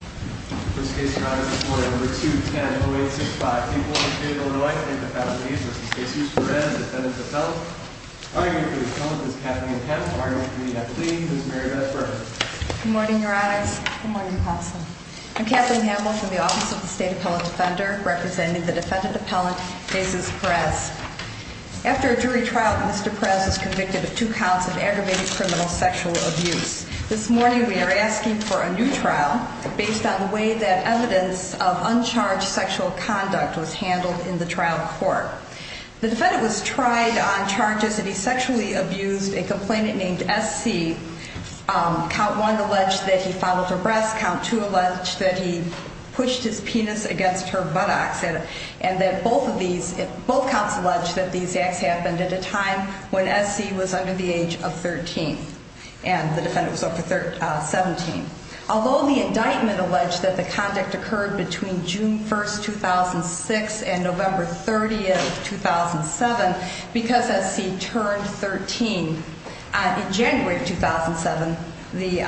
This case, your honor, is reported number 210-0865, people in the state of Illinois and the families of Mr. Jesus Perez, defendant of Perez. Arguably the defendant is Kathleen Hamill, arguably a plea, Ms. Mary Beth Burns. Good morning, your honors. Good morning, counsel. I'm Kathleen Hamill from the Office of the State Appellate Defender, representing the defendant appellant, Jesus Perez. After a jury trial, Mr. Perez was convicted of two counts of aggravated criminal sexual abuse. This morning we are asking for a new trial based on the way that evidence of uncharged sexual conduct was handled in the trial court. The defendant was tried on charges that he sexually abused a complainant named S.C. Count one alleged that he followed her breasts, count two alleged that he pushed his penis against her buttocks, and that both of these, both counts alleged that these acts happened at a time when S.C. was under the age of 13. And the defendant was over 17. Although the indictment alleged that the conduct occurred between June 1st, 2006 and November 30th, 2007, because S.C. turned 13 in January 2007, the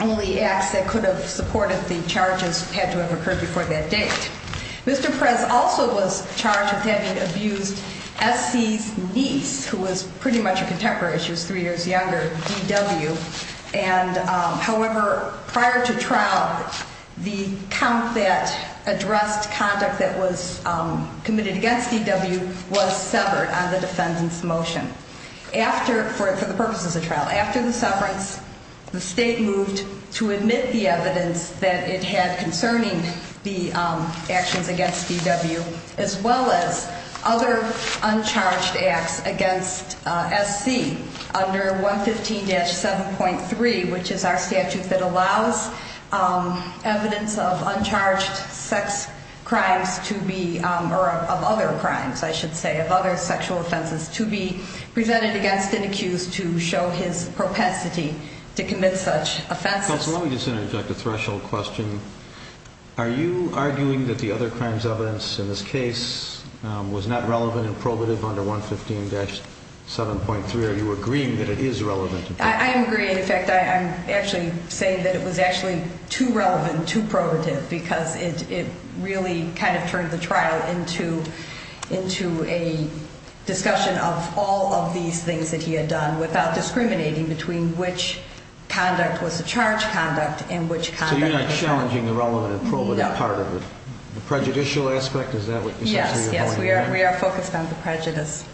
only acts that could have supported the charges had to have occurred before that date. Mr. Perez also was charged with having abused S.C.'s niece, who was pretty much a contemporary, she was three years younger, D.W. However, prior to trial, the count that addressed conduct that was committed against D.W. was severed on the defendant's motion. For the purposes of trial, after the severance, the state moved to admit the evidence that it had concerning the actions against D.W. as well as other uncharged acts against S.C. under 115-7.3, which is our statute that allows evidence of uncharged sex crimes to be, or of other crimes, I should say, of other sexual offenses to be presented against an accused to show his propensity to commit such offenses. Counsel, let me just interject a threshold question. Are you arguing that the other crimes evidence in this case was not relevant and probative under 115-7.3? Are you agreeing that it is relevant? I am agreeing. In fact, I'm actually saying that it was actually too relevant, too probative, because it really kind of turned the trial into a discussion of all of these things that he had done without discriminating between which conduct was a charged conduct and which conduct was not. So you're not challenging the relevant and probative part of it? No. The prejudicial aspect, is that what you're saying? Yes, yes. We are focused on the prejudice.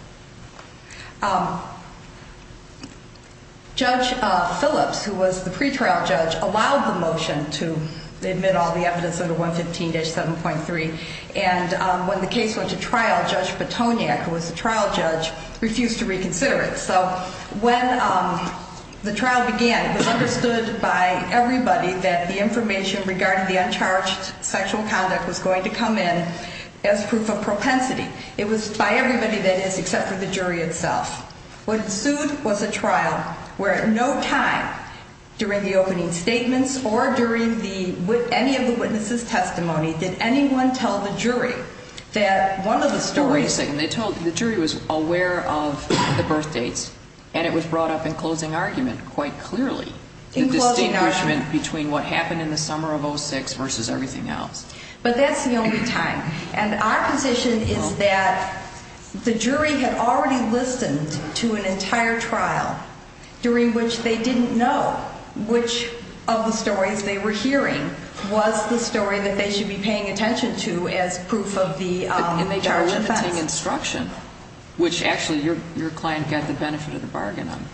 Judge Phillips, who was the pretrial judge, allowed the motion to admit all the evidence under 115-7.3. And when the case went to trial, Judge Petoniak, who was the trial judge, refused to reconsider it. So when the trial began, it was understood by everybody that the information regarding the uncharged sexual conduct was going to come in as proof of propensity. It was by everybody, that is, except for the jury itself. What ensued was a trial where at no time during the opening statements or during any of the witnesses' testimony did anyone tell the jury that one of the stories Wait a second. The jury was aware of the birth dates, and it was brought up in closing argument quite clearly. In closing argument. The distinguishment between what happened in the summer of 06 versus everything else. But that's the only time. And our position is that the jury had already listened to an entire trial during which they didn't know which of the stories they were hearing was the story that they should be paying attention to as proof of the charged offense. And they got a limiting instruction, which actually your client got the benefit of the bargain on.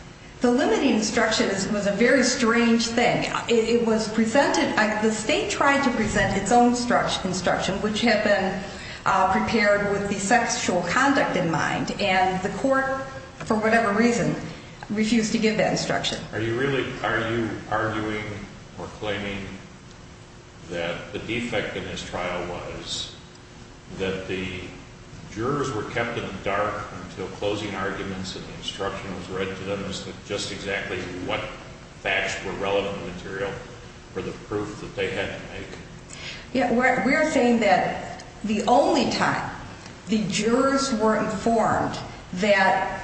The limiting instruction was a very strange thing. It was presented, the state tried to present its own instruction, which had been prepared with the sexual conduct in mind. And the court, for whatever reason, refused to give that instruction. Are you arguing or claiming that the defect in this trial was that the jurors were kept in the dark until closing arguments and the instruction was read to them as to just exactly what facts were relevant material for the proof that they had to make? Yeah, we're saying that the only time the jurors were informed that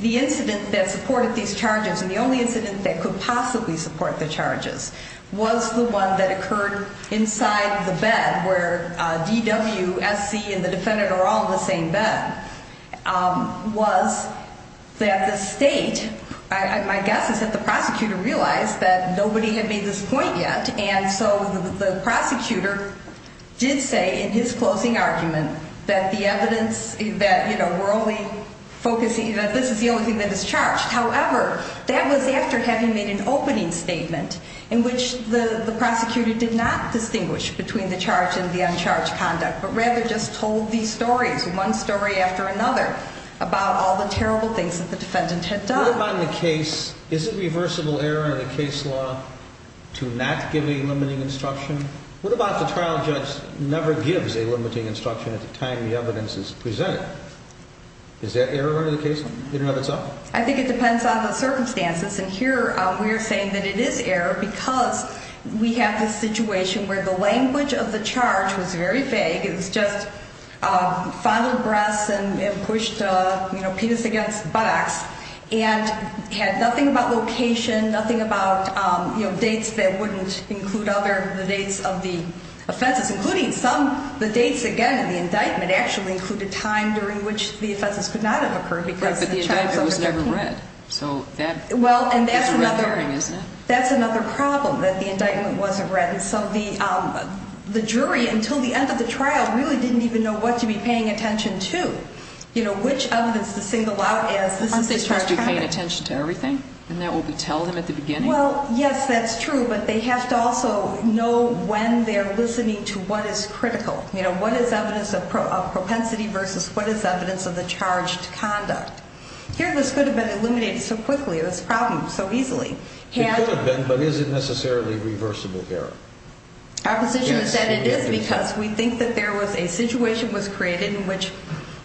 the incident that supported these charges and the only incident that could possibly support the charges was the one that occurred inside the bed where DWSC and the defendant are all in the same bed. And so the only thing that was said was that the state, my guess is that the prosecutor realized that nobody had made this point yet. And so the prosecutor did say in his closing argument that the evidence, that we're only focusing, that this is the only thing that is charged. However, that was after having made an opening statement in which the prosecutor did not distinguish between the charge and the uncharged conduct, but rather just told these stories, one story after another, about all the terrible things that the defendant had done. What about in the case, is it reversible error in the case law to not give a limiting instruction? What about the trial judge never gives a limiting instruction at the time the evidence is presented? Is that error in the case law in and of itself? I think it depends on the circumstances. And here we are saying that it is error because we have this situation where the language of the charge was very vague. It was just fondled breasts and pushed a penis against buttocks and had nothing about location, nothing about dates that wouldn't include other, the dates of the offenses, including some, the dates again in the indictment actually included time during which the offenses could not have occurred. But the indictment was never read. So that's a red herring, isn't it? That's another problem, that the indictment wasn't read. And so the jury, until the end of the trial, really didn't even know what to be paying attention to. You know, which evidence to single out as this is the charged conduct. Aren't they supposed to be paying attention to everything? Isn't that what we tell them at the beginning? Well, yes, that's true. But they have to also know when they're listening to what is critical. You know, what is evidence of propensity versus what is evidence of the charged conduct. Here this could have been eliminated so quickly, this problem, so easily. It could have been, but is it necessarily reversible here? Our position is that it is because we think that there was a situation was created in which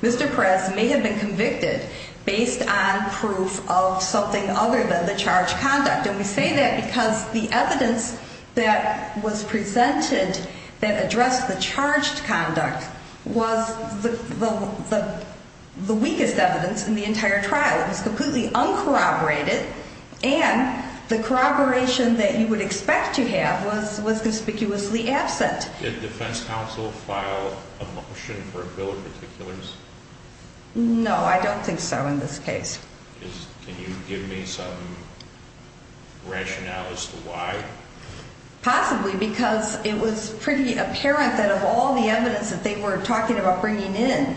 Mr. Perez may have been convicted based on proof of something other than the charged conduct. And we say that because the evidence that was presented that addressed the charged conduct was the weakest evidence in the entire trial. It was completely uncorroborated, and the corroboration that you would expect to have was conspicuously absent. Did defense counsel file a motion for a bill of particulars? No, I don't think so in this case. Can you give me some rationale as to why? Possibly because it was pretty apparent that of all the evidence that they were talking about bringing in,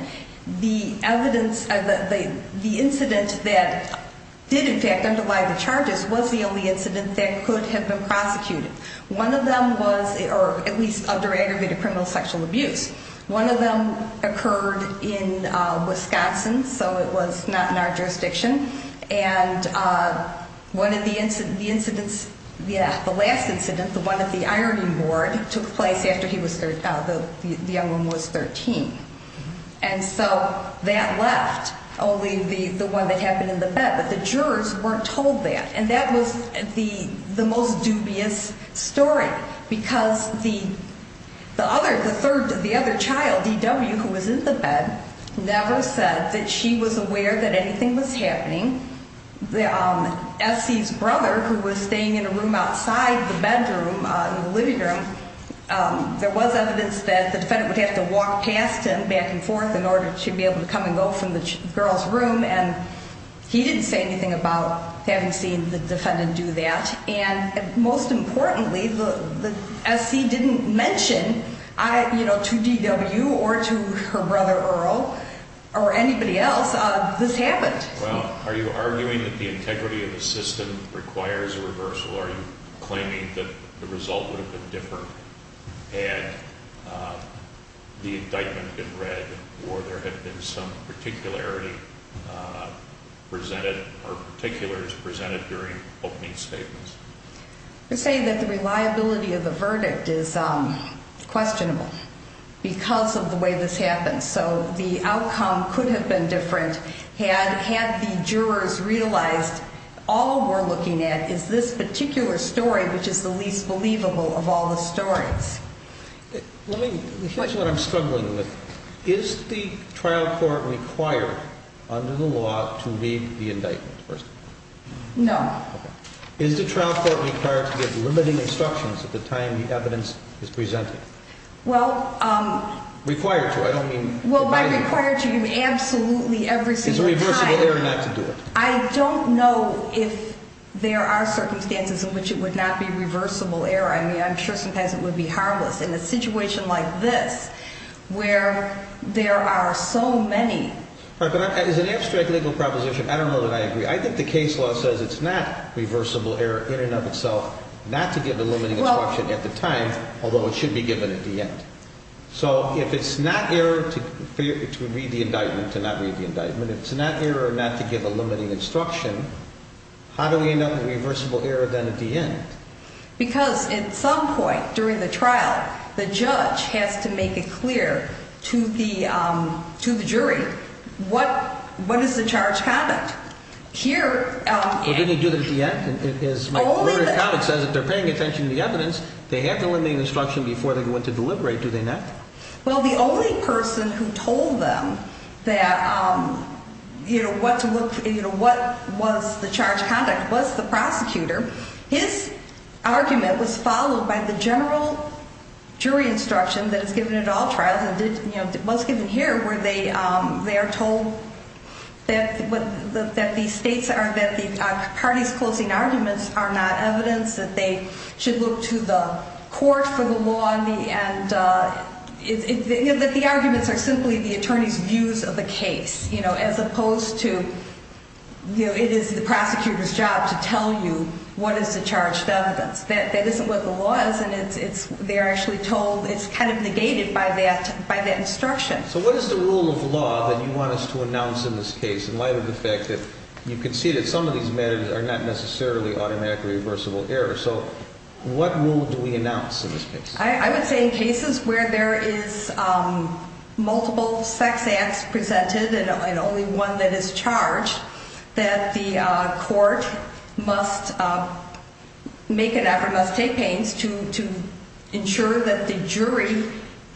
the evidence, the incident that did in fact underlie the charges was the only incident that could have been prosecuted. One of them was, or at least under aggravated criminal sexual abuse. One of them occurred in Wisconsin, so it was not in our jurisdiction. And one of the incidents, yeah, the last incident, the one at the ironing board, took place after the young one was 13. And so that left only the one that happened in the bed, but the jurors weren't told that. And that was the most dubious story, because the other child, D.W., who was in the bed, never said that she was aware that anything was happening. S.C.'s brother, who was staying in a room outside the bedroom, in the living room, there was evidence that the defendant would have to walk past him back and forth in order to be able to come and go from the girl's room. And he didn't say anything about having seen the defendant do that. And most importantly, S.C. didn't mention to D.W. or to her brother, Earl, or anybody else, this happened. Well, are you arguing that the integrity of the system requires a reversal? Are you claiming that the result would have been different had the indictment been read or there had been some particularity presented or particulars presented during opening statements? I say that the reliability of the verdict is questionable because of the way this happened. So the outcome could have been different had the jurors realized all we're looking at is this particular story, which is the least believable of all the stories. Here's what I'm struggling with. Is the trial court required under the law to read the indictment first? No. Okay. Is the trial court required to give limiting instructions at the time the evidence is presented? Well, um... Required to. I don't mean... Well, by required to, you mean absolutely every single time. Is it reversible error not to do it? I don't know if there are circumstances in which it would not be reversible error. I mean, I'm sure sometimes it would be harmless. In a situation like this where there are so many... As an abstract legal proposition, I don't know that I agree. I think the case law says it's not reversible error in and of itself not to give a limiting instruction at the time, although it should be given at the end. So if it's not error to read the indictment, to not read the indictment, if it's not error not to give a limiting instruction, how do we end up with reversible error then at the end? Because at some point during the trial, the judge has to make it clear to the jury what is the charge conduct. Here... Well, didn't he do that at the end? Only the... It says that they're paying attention to the evidence. They have to limit the instruction before they go in to deliberate, do they not? Well, the only person who told them that, you know, what was the charge conduct was the prosecutor. His argument was followed by the general jury instruction that is given at all trials, and, you know, what's given here where they are told that these states are... that the parties closing arguments are not evidence, that they should look to the court for the law, and that the arguments are simply the attorney's views of the case, you know, as opposed to, you know, it is the prosecutor's job to tell you what is the charged evidence. That isn't what the law is, and they are actually told it's kind of negated by that instruction. So what is the rule of law that you want us to announce in this case in light of the fact that you can see that some of these matters are not necessarily automatically reversible error? So what rule do we announce in this case? I would say in cases where there is multiple sex acts presented and only one that is charged, that the court must make an effort, must take pains to ensure that the jury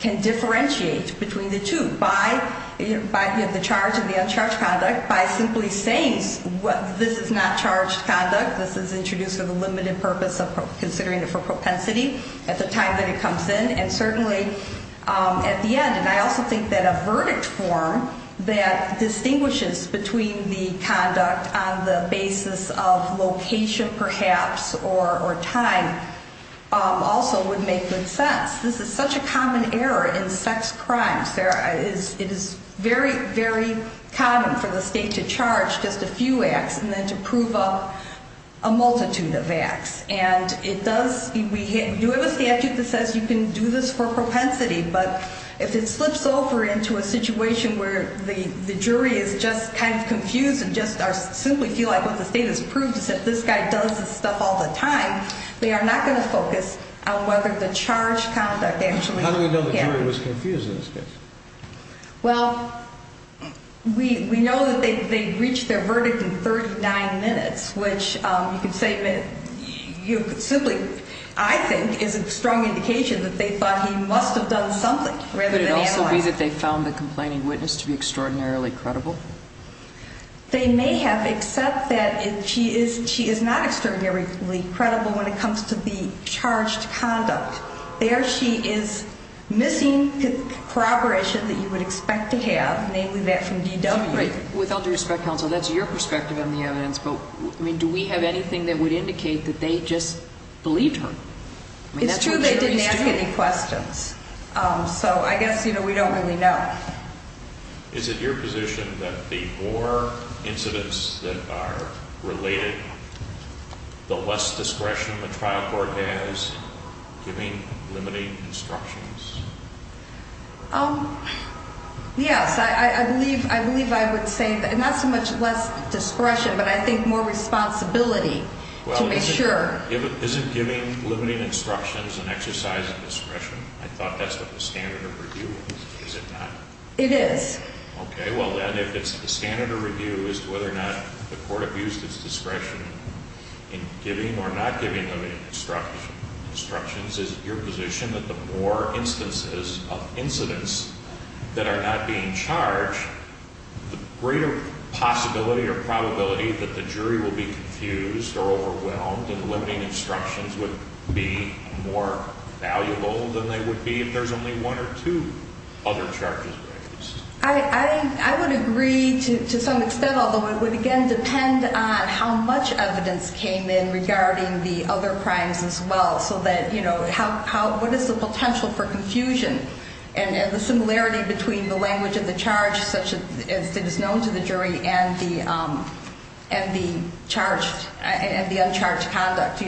can differentiate between the two by the charge and the uncharged conduct by simply saying this is not charged conduct, this is introduced with a limited purpose of considering it for propensity at the time that it comes in, and certainly at the end. And I also think that a verdict form that distinguishes between the conduct on the basis of location perhaps or time also would make good sense. This is such a common error in sex crimes. It is very, very common for the state to charge just a few acts and then to prove a multitude of acts. And it does, we have a statute that says you can do this for propensity, but if it slips over into a situation where the jury is just kind of confused and just simply feel like what the state has proved is that this guy does this stuff all the time, they are not going to focus on whether the charged conduct actually happened. How do we know the jury was confused in this case? Well, we know that they reached their verdict in 39 minutes, which you could say simply I think is a strong indication that they thought he must have done something. Would it also be that they found the complaining witness to be extraordinarily credible? They may have, except that she is not extraordinarily credible when it comes to the charged conduct. There she is missing corroboration that you would expect to have, namely that from DW. With all due respect, counsel, that's your perspective on the evidence, but do we have anything that would indicate that they just believed her? It's true they didn't ask any questions, so I guess we don't really know. Is it your position that the more incidents that are related, the less discretion the trial court has giving limiting instructions? Yes, I believe I would say not so much less discretion, but I think more responsibility to make sure. Is it giving limiting instructions and exercising discretion? I thought that's what the standard of review is. Is it not? It is. Okay, well then, if it's the standard of review as to whether or not the court abused its discretion in giving or not giving any instructions, is it your position that the more instances of incidents that are not being charged, the greater possibility or probability that the jury will be confused or overwhelmed and limiting instructions would be more valuable than they would be if there's only one or two other charges raised? I would agree to some extent, although it would, again, depend on how much evidence came in regarding the other crimes as well, so that, you know, what is the potential for confusion and the similarity between the language of the charge, such as it is known to the jury, and the uncharged conduct?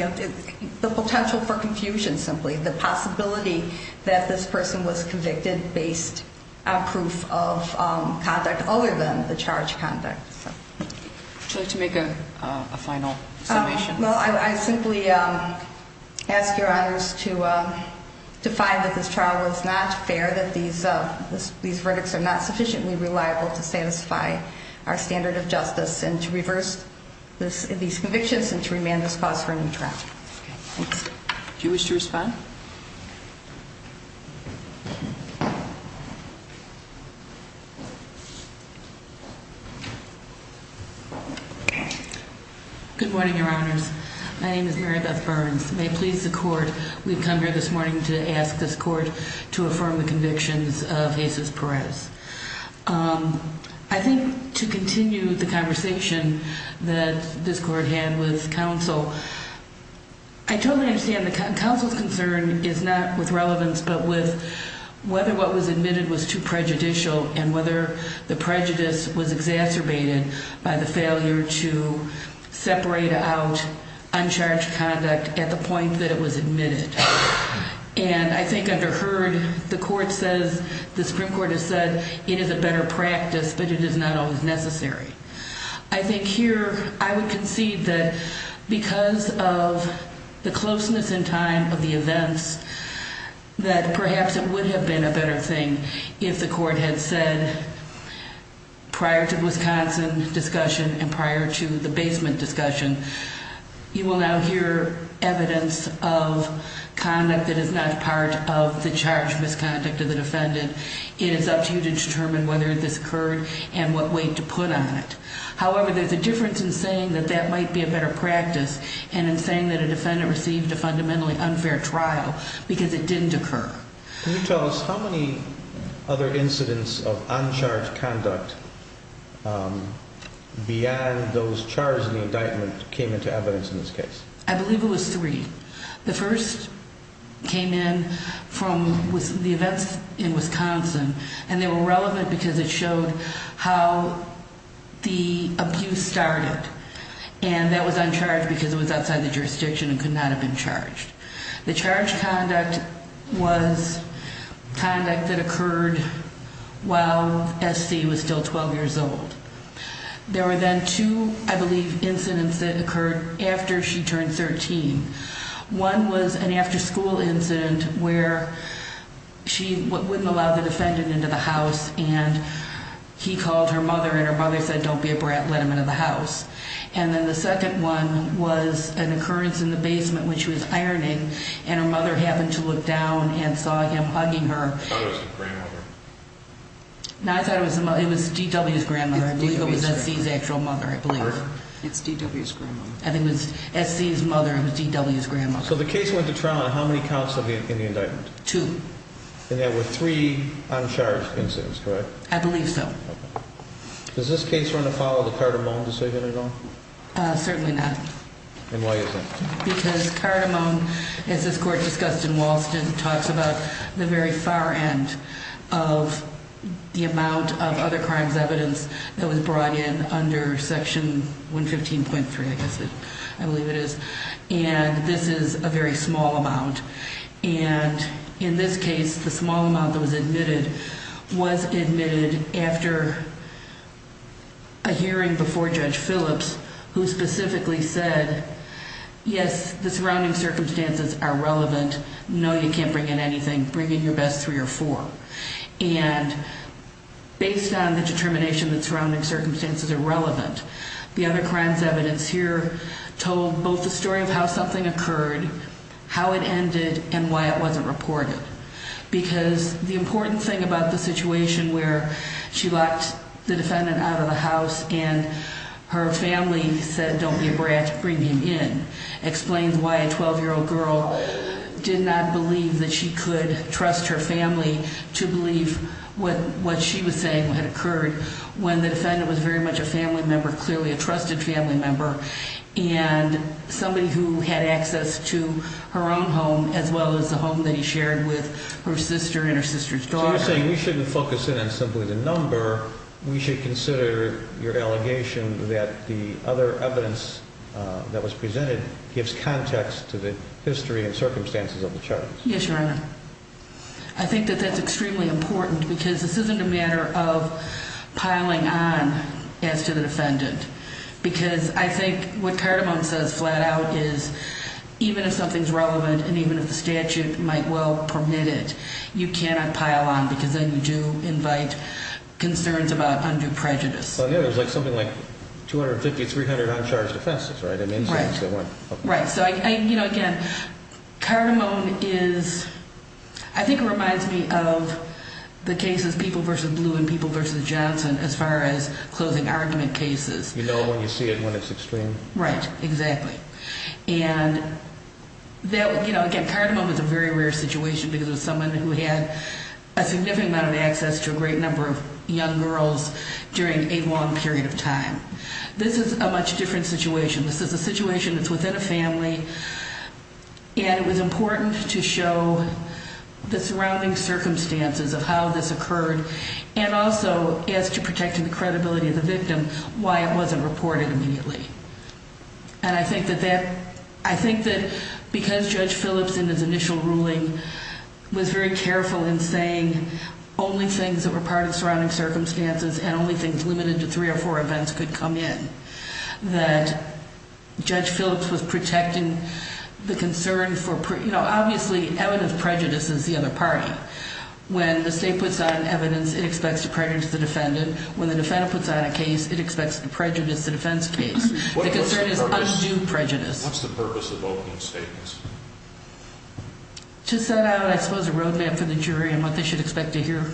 The potential for confusion, simply, the possibility that this person was convicted based on proof of conduct other than the charged conduct. Would you like to make a final summation? Well, I simply ask Your Honors to find that this trial was not fair, that these verdicts are not sufficiently reliable to satisfy our standard of justice and to reverse these convictions and to remand this cause for a new trial. Okay, thanks. Do you wish to respond? Good morning, Your Honors. My name is Mary Beth Burns. May it please the court, we've come here this morning to ask this court to affirm the convictions of Jesus Perez. I think to continue the conversation that this court had with counsel, I totally understand that counsel's concern is not with relevance but with whether what was admitted was too prejudicial and whether the prejudice was exacerbated by the failure to separate out uncharged conduct at the point that it was admitted. And I think under heard, the court says, the Supreme Court has said, it is a better practice but it is not always necessary. I think here, I would concede that because of the closeness in time of the events, that perhaps it would have been a better thing if the court had said, prior to the Wisconsin discussion and prior to the basement discussion, you will now hear evidence of conduct that is not part of the charged misconduct of the defendant. It is up to you to determine whether this occurred and what weight to put on it. However, there's a difference in saying that that might be a better practice and in saying that a defendant received a fundamentally unfair trial because it didn't occur. Can you tell us how many other incidents of uncharged conduct beyond those charged in the indictment came into evidence in this case? I believe it was three. The first came in from the events in Wisconsin and they were relevant because it showed how the abuse started. And that was uncharged because it was outside the jurisdiction and could not have been charged. The charged conduct was conduct that occurred while S.C. was still 12 years old. There were then two, I believe, incidents that occurred after she turned 13. One was an after school incident where she wouldn't allow the defendant into the house and he called her mother and her mother said, don't be a brat, let him into the house. And then the second one was an occurrence in the basement when she was ironing and her mother happened to look down and saw him hugging her. I thought it was the grandmother. No, I thought it was D.W.'s grandmother. I believe it was S.C.'s actual mother, I believe. It's D.W.'s grandmother. I think it was S.C.'s mother, it was D.W.'s grandmother. So the case went to trial on how many counts in the indictment? Two. And there were three uncharged incidents, correct? I believe so. Does this case run afoul of the Cardamone decision at all? Certainly not. And why is that? Because Cardamone, as this Court discussed in Walston, talks about the very far end of the amount of other crimes evidence that was brought in under Section 115.3, I believe it is. And this is a very small amount. And in this case, the small amount that was admitted was admitted after a hearing before Judge Phillips, who specifically said, yes, the surrounding circumstances are relevant. No, you can't bring in anything. Bring in your best three or four. And based on the determination that surrounding circumstances are relevant, the other crimes evidence here told both the story of how something occurred, how it ended, and why it wasn't reported. Because the important thing about the situation where she locked the defendant out of the house and her family said, don't be a brat, bring him in, explains why a 12-year-old girl did not believe that she could trust her family to believe what she was saying had occurred when the defendant was very much a family member, clearly a trusted family member, and somebody who had access to her own home as well as the home that he shared with her sister and her sister's daughter. So you're saying we shouldn't focus in on simply the number. We should consider your allegation that the other evidence that was presented gives context to the history and circumstances of the charges. Yes, Your Honor. I think that that's extremely important because this isn't a matter of piling on as to the defendant because I think what Cardamone says flat out is even if something's relevant and even if the statute might well permit it, you cannot pile on because then you do invite concerns about undue prejudice. Well, there's something like 250, 300 uncharged offenses, right? Right. Right. So again, Cardamone is, I think it reminds me of the cases People v. Blue and People v. Johnson as far as closing argument cases. You know when you see it when it's extreme. Right. Exactly. And again, Cardamone was a very rare situation because it was someone who had a significant amount of access to a great number of young girls during a long period of time. This is a much different situation. This is a situation that's within a family, and it was important to show the surrounding circumstances of how this occurred and also as to protecting the credibility of the victim why it wasn't reported immediately. And I think that because Judge Phillips in his initial ruling was very careful in saying only things that were part of surrounding circumstances and only things limited to three or four events could come in, obviously evidence prejudice is the other party. When the state puts out evidence, it expects to prejudice the defendant. When the defendant puts out a case, it expects to prejudice the defense case. The concern is undue prejudice. What's the purpose of opening statements? To set out, I suppose, a roadmap for the jury and what they should expect to hear.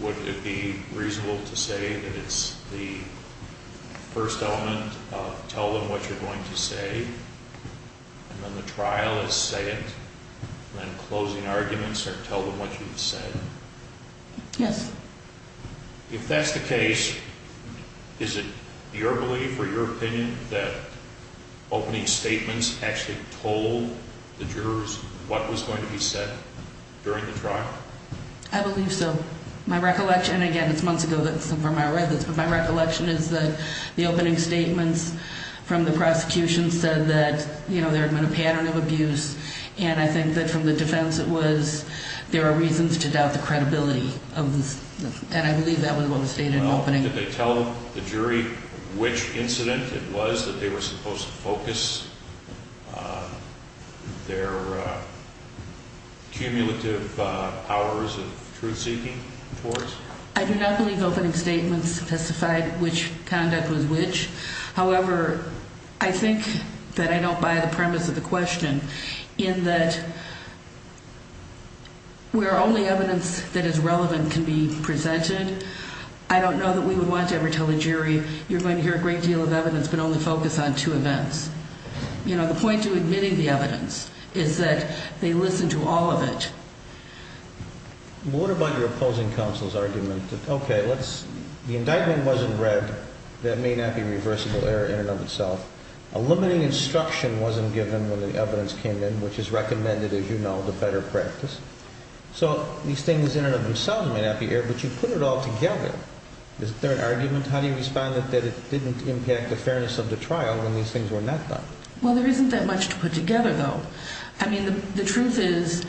Would it be reasonable to say that it's the first element of tell them what you're going to say, and then the trial is say it, and then closing arguments are tell them what you've said? Yes. If that's the case, is it your belief or your opinion that opening statements actually told the jurors what was going to be said during the trial? I believe so. My recollection, again, it's months ago that I read this, but my recollection is that the opening statements from the prosecution said that, you know, there had been a pattern of abuse, and I think that from the defense it was there are reasons to doubt the credibility, and I believe that was what was stated in the opening. Well, did they tell the jury which incident it was that they were supposed to focus their cumulative hours of truth-seeking towards? I do not believe opening statements testified which conduct was which. However, I think that I don't buy the premise of the question in that where only evidence that is relevant can be presented, I don't know that we would want to ever tell the jury you're going to hear a great deal of evidence but only focus on two events. You know, the point to admitting the evidence is that they listen to all of it. What about your opposing counsel's argument that, okay, the indictment wasn't read, that may not be a reversible error in and of itself, a limiting instruction wasn't given when the evidence came in, which is recommended, as you know, to better practice, so these things in and of themselves may not be error, but you put it all together. Is there an argument? How do you respond that it didn't impact the fairness of the trial when these things were not done? Well, there isn't that much to put together, though. I mean, the truth is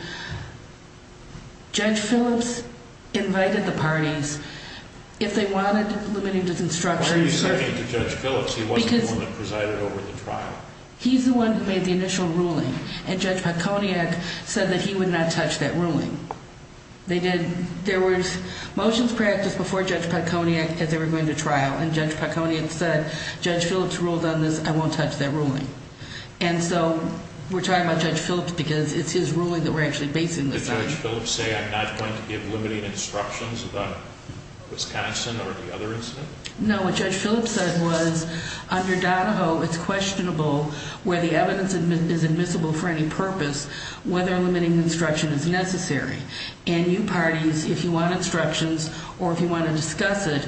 Judge Phillips invited the parties. If they wanted limiting instructions. What are you saying to Judge Phillips? He wasn't the one that presided over the trial. He's the one that made the initial ruling, and Judge Patconiak said that he would not touch that ruling. They did. There was motions practiced before Judge Patconiak as they were going to trial, and Judge Patconiak said, Judge Phillips ruled on this, I won't touch that ruling. And so we're talking about Judge Phillips because it's his ruling that we're actually basing this on. Did Judge Phillips say, I'm not going to give limiting instructions about Wisconsin or the other incident? No, what Judge Phillips said was, under Donahoe, it's questionable where the evidence is admissible for any purpose whether limiting instruction is necessary. And you parties, if you want instructions or if you want to discuss it,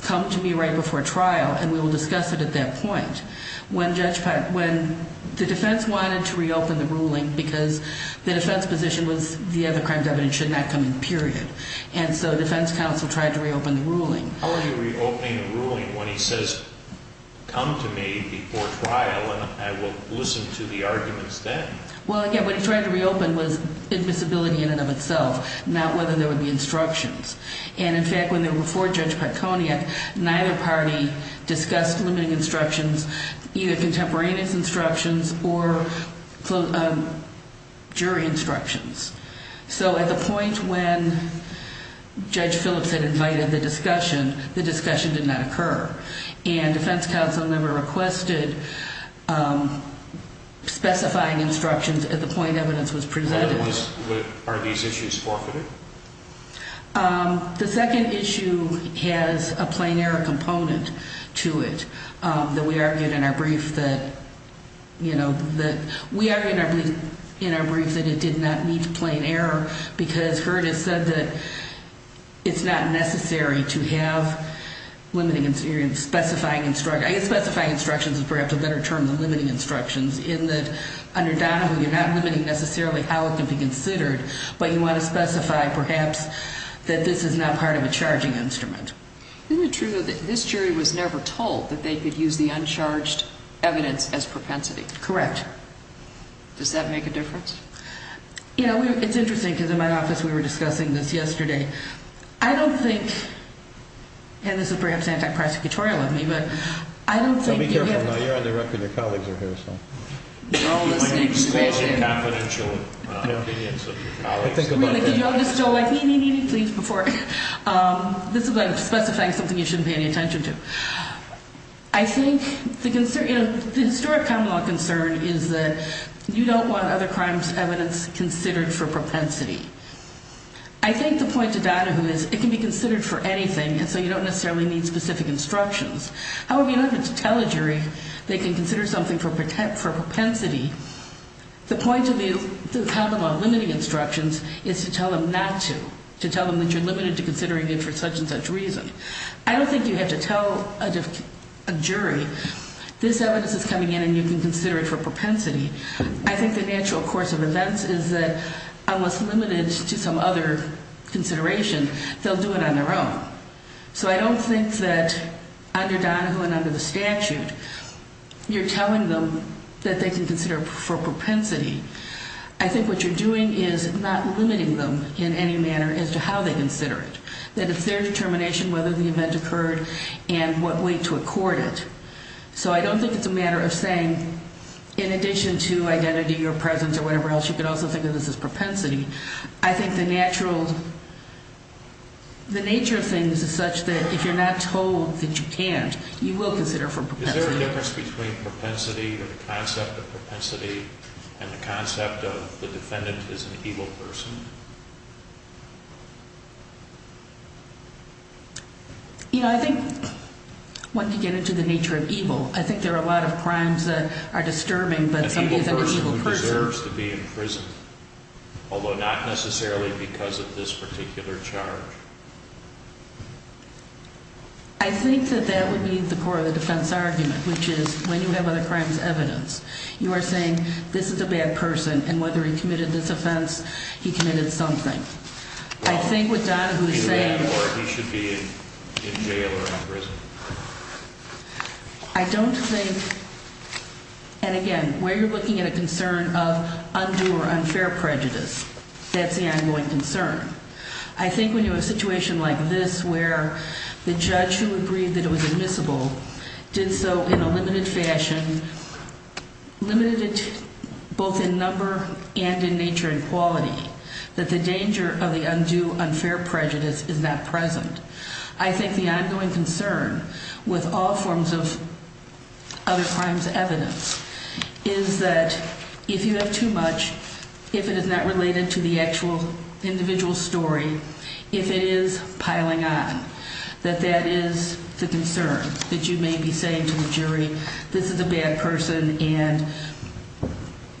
come to me right before trial, and we will discuss it at that point. When the defense wanted to reopen the ruling because the defense position was the other crime evidence should not come in, period. And so the defense counsel tried to reopen the ruling. How are you reopening the ruling when he says, come to me before trial, and I will listen to the arguments then? Well, again, what he tried to reopen was admissibility in and of itself, not whether there would be instructions. And in fact, when they were before Judge Patconiak, neither party discussed limiting instructions, either contemporaneous instructions or jury instructions. So at the point when Judge Phillips had invited the discussion, the discussion did not occur. And defense counsel never requested specifying instructions at the point evidence was presented. Are these issues forfeited? The second issue has a plain error component to it that we argued in our brief that, you know, that we argued in our brief that it did not meet plain error because Hurd has said that it's not necessary to have limiting, you're specifying instructions, I guess specifying instructions is perhaps a better term than limiting instructions, in that under Donovan you're not limiting necessarily how it can be considered, but you want to specify perhaps that this is not part of a charging instrument. Isn't it true that this jury was never told that they could use the uncharged evidence as propensity? Correct. Does that make a difference? You know, it's interesting because in my office we were discussing this yesterday. I don't think, and this is perhaps anti-prosecutorial of me, but I don't think. Be careful now. You're on the record. Your colleagues are here, so. It's like exposing confidential opinions of your colleagues. Really, could you all just go like, me, me, me, me, please, before. This is like specifying something you shouldn't pay any attention to. I think the historic common law concern is that you don't want other crimes' evidence considered for propensity. I think the point to Donovan is it can be considered for anything, and so you don't necessarily need specific instructions. However, you don't have to tell a jury they can consider something for propensity. The point of the common law limiting instructions is to tell them not to, to tell them that you're limited to considering it for such and such reason. I don't think you have to tell a jury this evidence is coming in and you can consider it for propensity. I think the natural course of events is that unless limited to some other consideration, they'll do it on their own. So I don't think that under Donoho and under the statute, you're telling them that they can consider it for propensity. I think what you're doing is not limiting them in any manner as to how they consider it. That it's their determination whether the event occurred and what way to accord it. So I don't think it's a matter of saying, in addition to identity or presence or whatever else, you can also think of this as propensity. I think the natural, the nature of things is such that if you're not told that you can't, you will consider it for propensity. Is there a difference between propensity or the concept of propensity and the concept of the defendant is an evil person? You know, I think once you get into the nature of evil, I think there are a lot of crimes that are disturbing, but somebody is an evil person. He deserves to be in prison, although not necessarily because of this particular charge. I think that that would be the core of the defense argument, which is when you have other crimes evidence, you are saying this is a bad person and whether he committed this offense, he committed something. I think with Donoho's saying- Well, he should be in jail or in prison. I don't think, and again, where you're looking at a concern of undue or unfair prejudice, that's the ongoing concern. I think when you have a situation like this where the judge who agreed that it was admissible did so in a limited fashion, limited it both in number and in nature and quality, that the danger of the undue, unfair prejudice is not present. I think the ongoing concern with all forms of other crimes evidence is that if you have too much, if it is not related to the actual individual story, if it is piling on, that that is the concern, that you may be saying to the jury, this is a bad person and,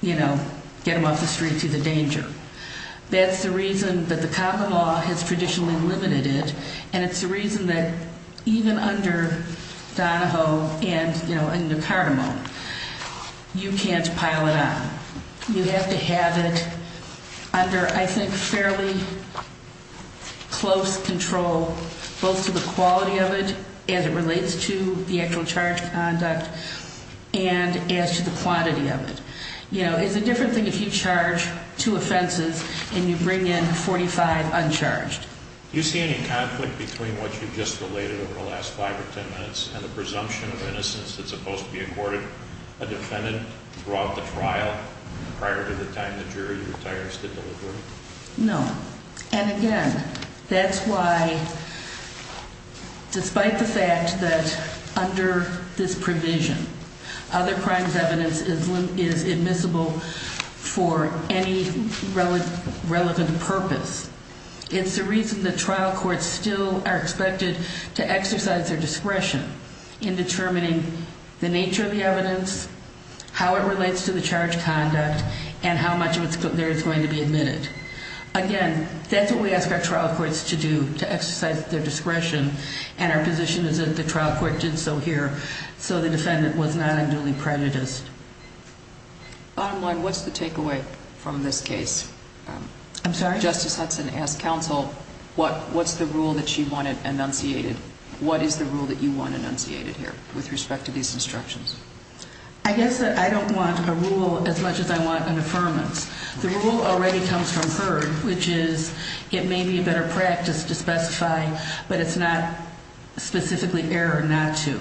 you know, get him off the streets, he's a danger. That's the reason that the common law has traditionally limited it and it's the reason that even under Donoho and, you know, Nicardemo, you can't pile it on. You have to have it under, I think, fairly close control both to the quality of it as it relates to the actual charge conduct and as to the quantity of it. You know, it's a different thing if you charge two offenses and you bring in 45 uncharged. Do you see any conflict between what you just related over the last five or ten minutes and the presumption of innocence that's supposed to be accorded a defendant throughout the trial prior to the time the jury retires the delivery? No. And again, that's why, despite the fact that under this provision, other crimes evidence is admissible for any relevant purpose, it's the reason that trial courts still are expected to exercise their discretion in determining the nature of the evidence, how it relates to the charge conduct, and how much of it there is going to be admitted. Again, that's what we ask our trial courts to do, to exercise their discretion, and our position is that the trial court did so here so the defendant was not a newly prejudiced. Bottom line, what's the takeaway from this case? I'm sorry? Justice Hudson asked counsel, what's the rule that she wanted enunciated? What is the rule that you want enunciated here with respect to these instructions? I guess that I don't want a rule as much as I want an affirmance. The rule already comes from her, which is it may be a better practice to specify, but it's not specifically error not to.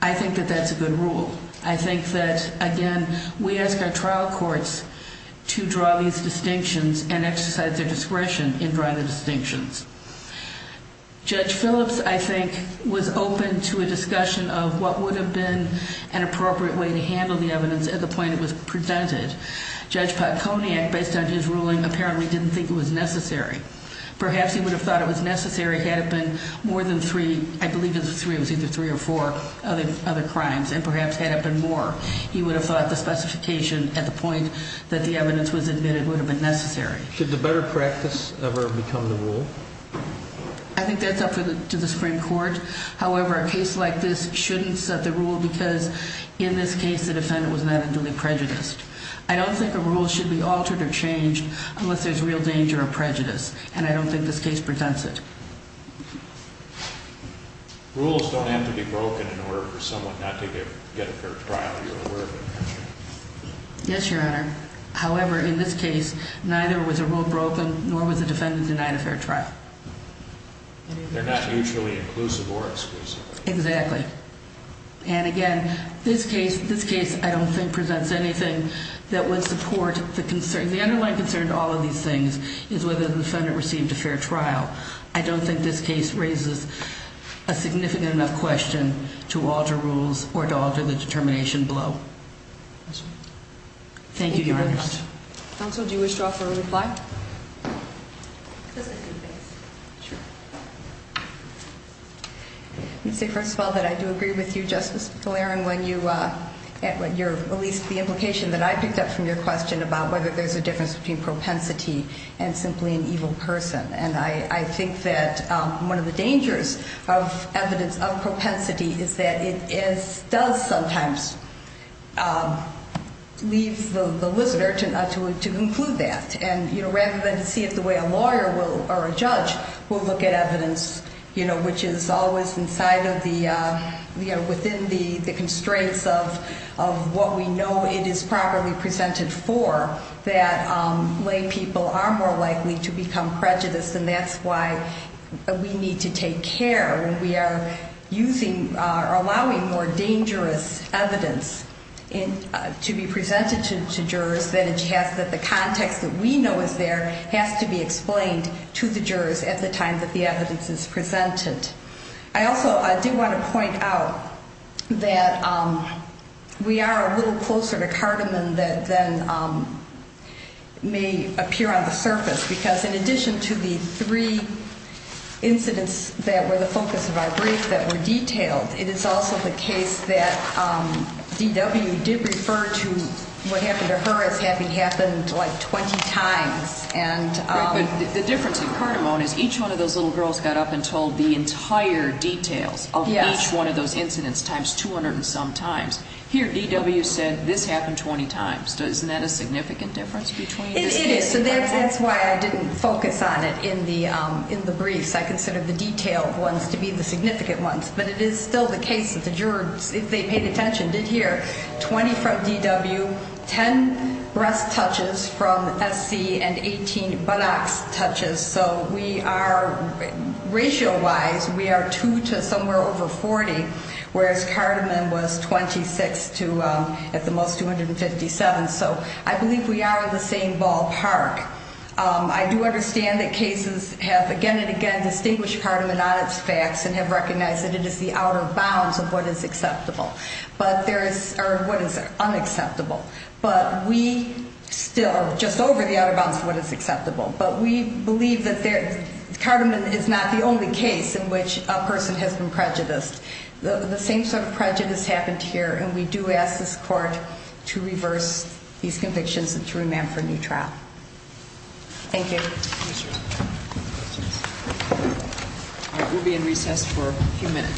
I think that that's a good rule. I think that, again, we ask our trial courts to draw these distinctions and exercise their discretion in drawing the distinctions. Judge Phillips, I think, was open to a discussion of what would have been an appropriate way to handle the evidence at the point it was presented. Judge Patconiac, based on his ruling, apparently didn't think it was necessary. Perhaps he would have thought it was necessary had it been more than three, I believe it was either three or four other crimes, and perhaps had it been more, he would have thought the specification at the point that the evidence was admitted would have been necessary. Should the better practice ever become the rule? I think that's up to the Supreme Court. However, a case like this shouldn't set the rule because, in this case, the defendant was not a duly prejudiced. I don't think a rule should be altered or changed unless there's real danger of prejudice, and I don't think this case presents it. Rules don't have to be broken in order for someone not to get a fair trial, you're aware of that. Yes, Your Honor. However, in this case, neither was a rule broken nor was the defendant denied a fair trial. They're not mutually inclusive or exclusive. Exactly. And again, this case, I don't think, presents anything that would support the concern. The underlying concern to all of these things is whether the defendant received a fair trial. I don't think this case raises a significant enough question to alter rules or to alter the determination below. Yes, Your Honor. Thank you, Your Honor. Counsel, do you wish to offer a reply? Just a few things. Sure. Let's say, first of all, that I do agree with you, Justice DeLaron, when you released the implication that I picked up from your question about whether there's a difference between propensity and simply an evil person. And I think that one of the dangers of evidence of propensity is that it does sometimes leave the listener to conclude that. And rather than see it the way a lawyer will or a judge will look at evidence, which is always inside of the, within the constraints of what we know it is properly presented for, that lay people are more likely to become prejudiced, and that's why we need to take care. When we are using or allowing more dangerous evidence to be presented to jurors, that the context that we know is there has to be explained to the jurors at the time that the evidence is presented. I also do want to point out that we are a little closer to cardamom than may appear on the surface, because in addition to the three incidents that were the focus of our brief that were detailed, it is also the case that D.W. did refer to what happened to her as having happened like 20 times. Right, but the difference in cardamom is each one of those little girls got up and told the entire details of each one of those incidents times 200 and some times. Here, D.W. said this happened 20 times. It is, and that's why I didn't focus on it in the briefs. I considered the detailed ones to be the significant ones, but it is still the case that the jurors, if they paid attention, did hear 20 from D.W., 10 breast touches from S.C., and 18 buttocks touches. So we are, ratio-wise, we are 2 to somewhere over 40, whereas cardamom was 26 to at the most 257. So I believe we are in the same ballpark. I do understand that cases have again and again distinguished cardamom on its facts and have recognized that it is the outer bounds of what is acceptable, or what is unacceptable. But we still, just over the outer bounds of what is acceptable, but we believe that cardamom is not the only case in which a person has been prejudiced. The same sort of prejudice happened here, and we do ask this court to reverse these convictions and to remand for a new trial. Thank you. Thank you, sir. All right, we'll be in recess for a few minutes.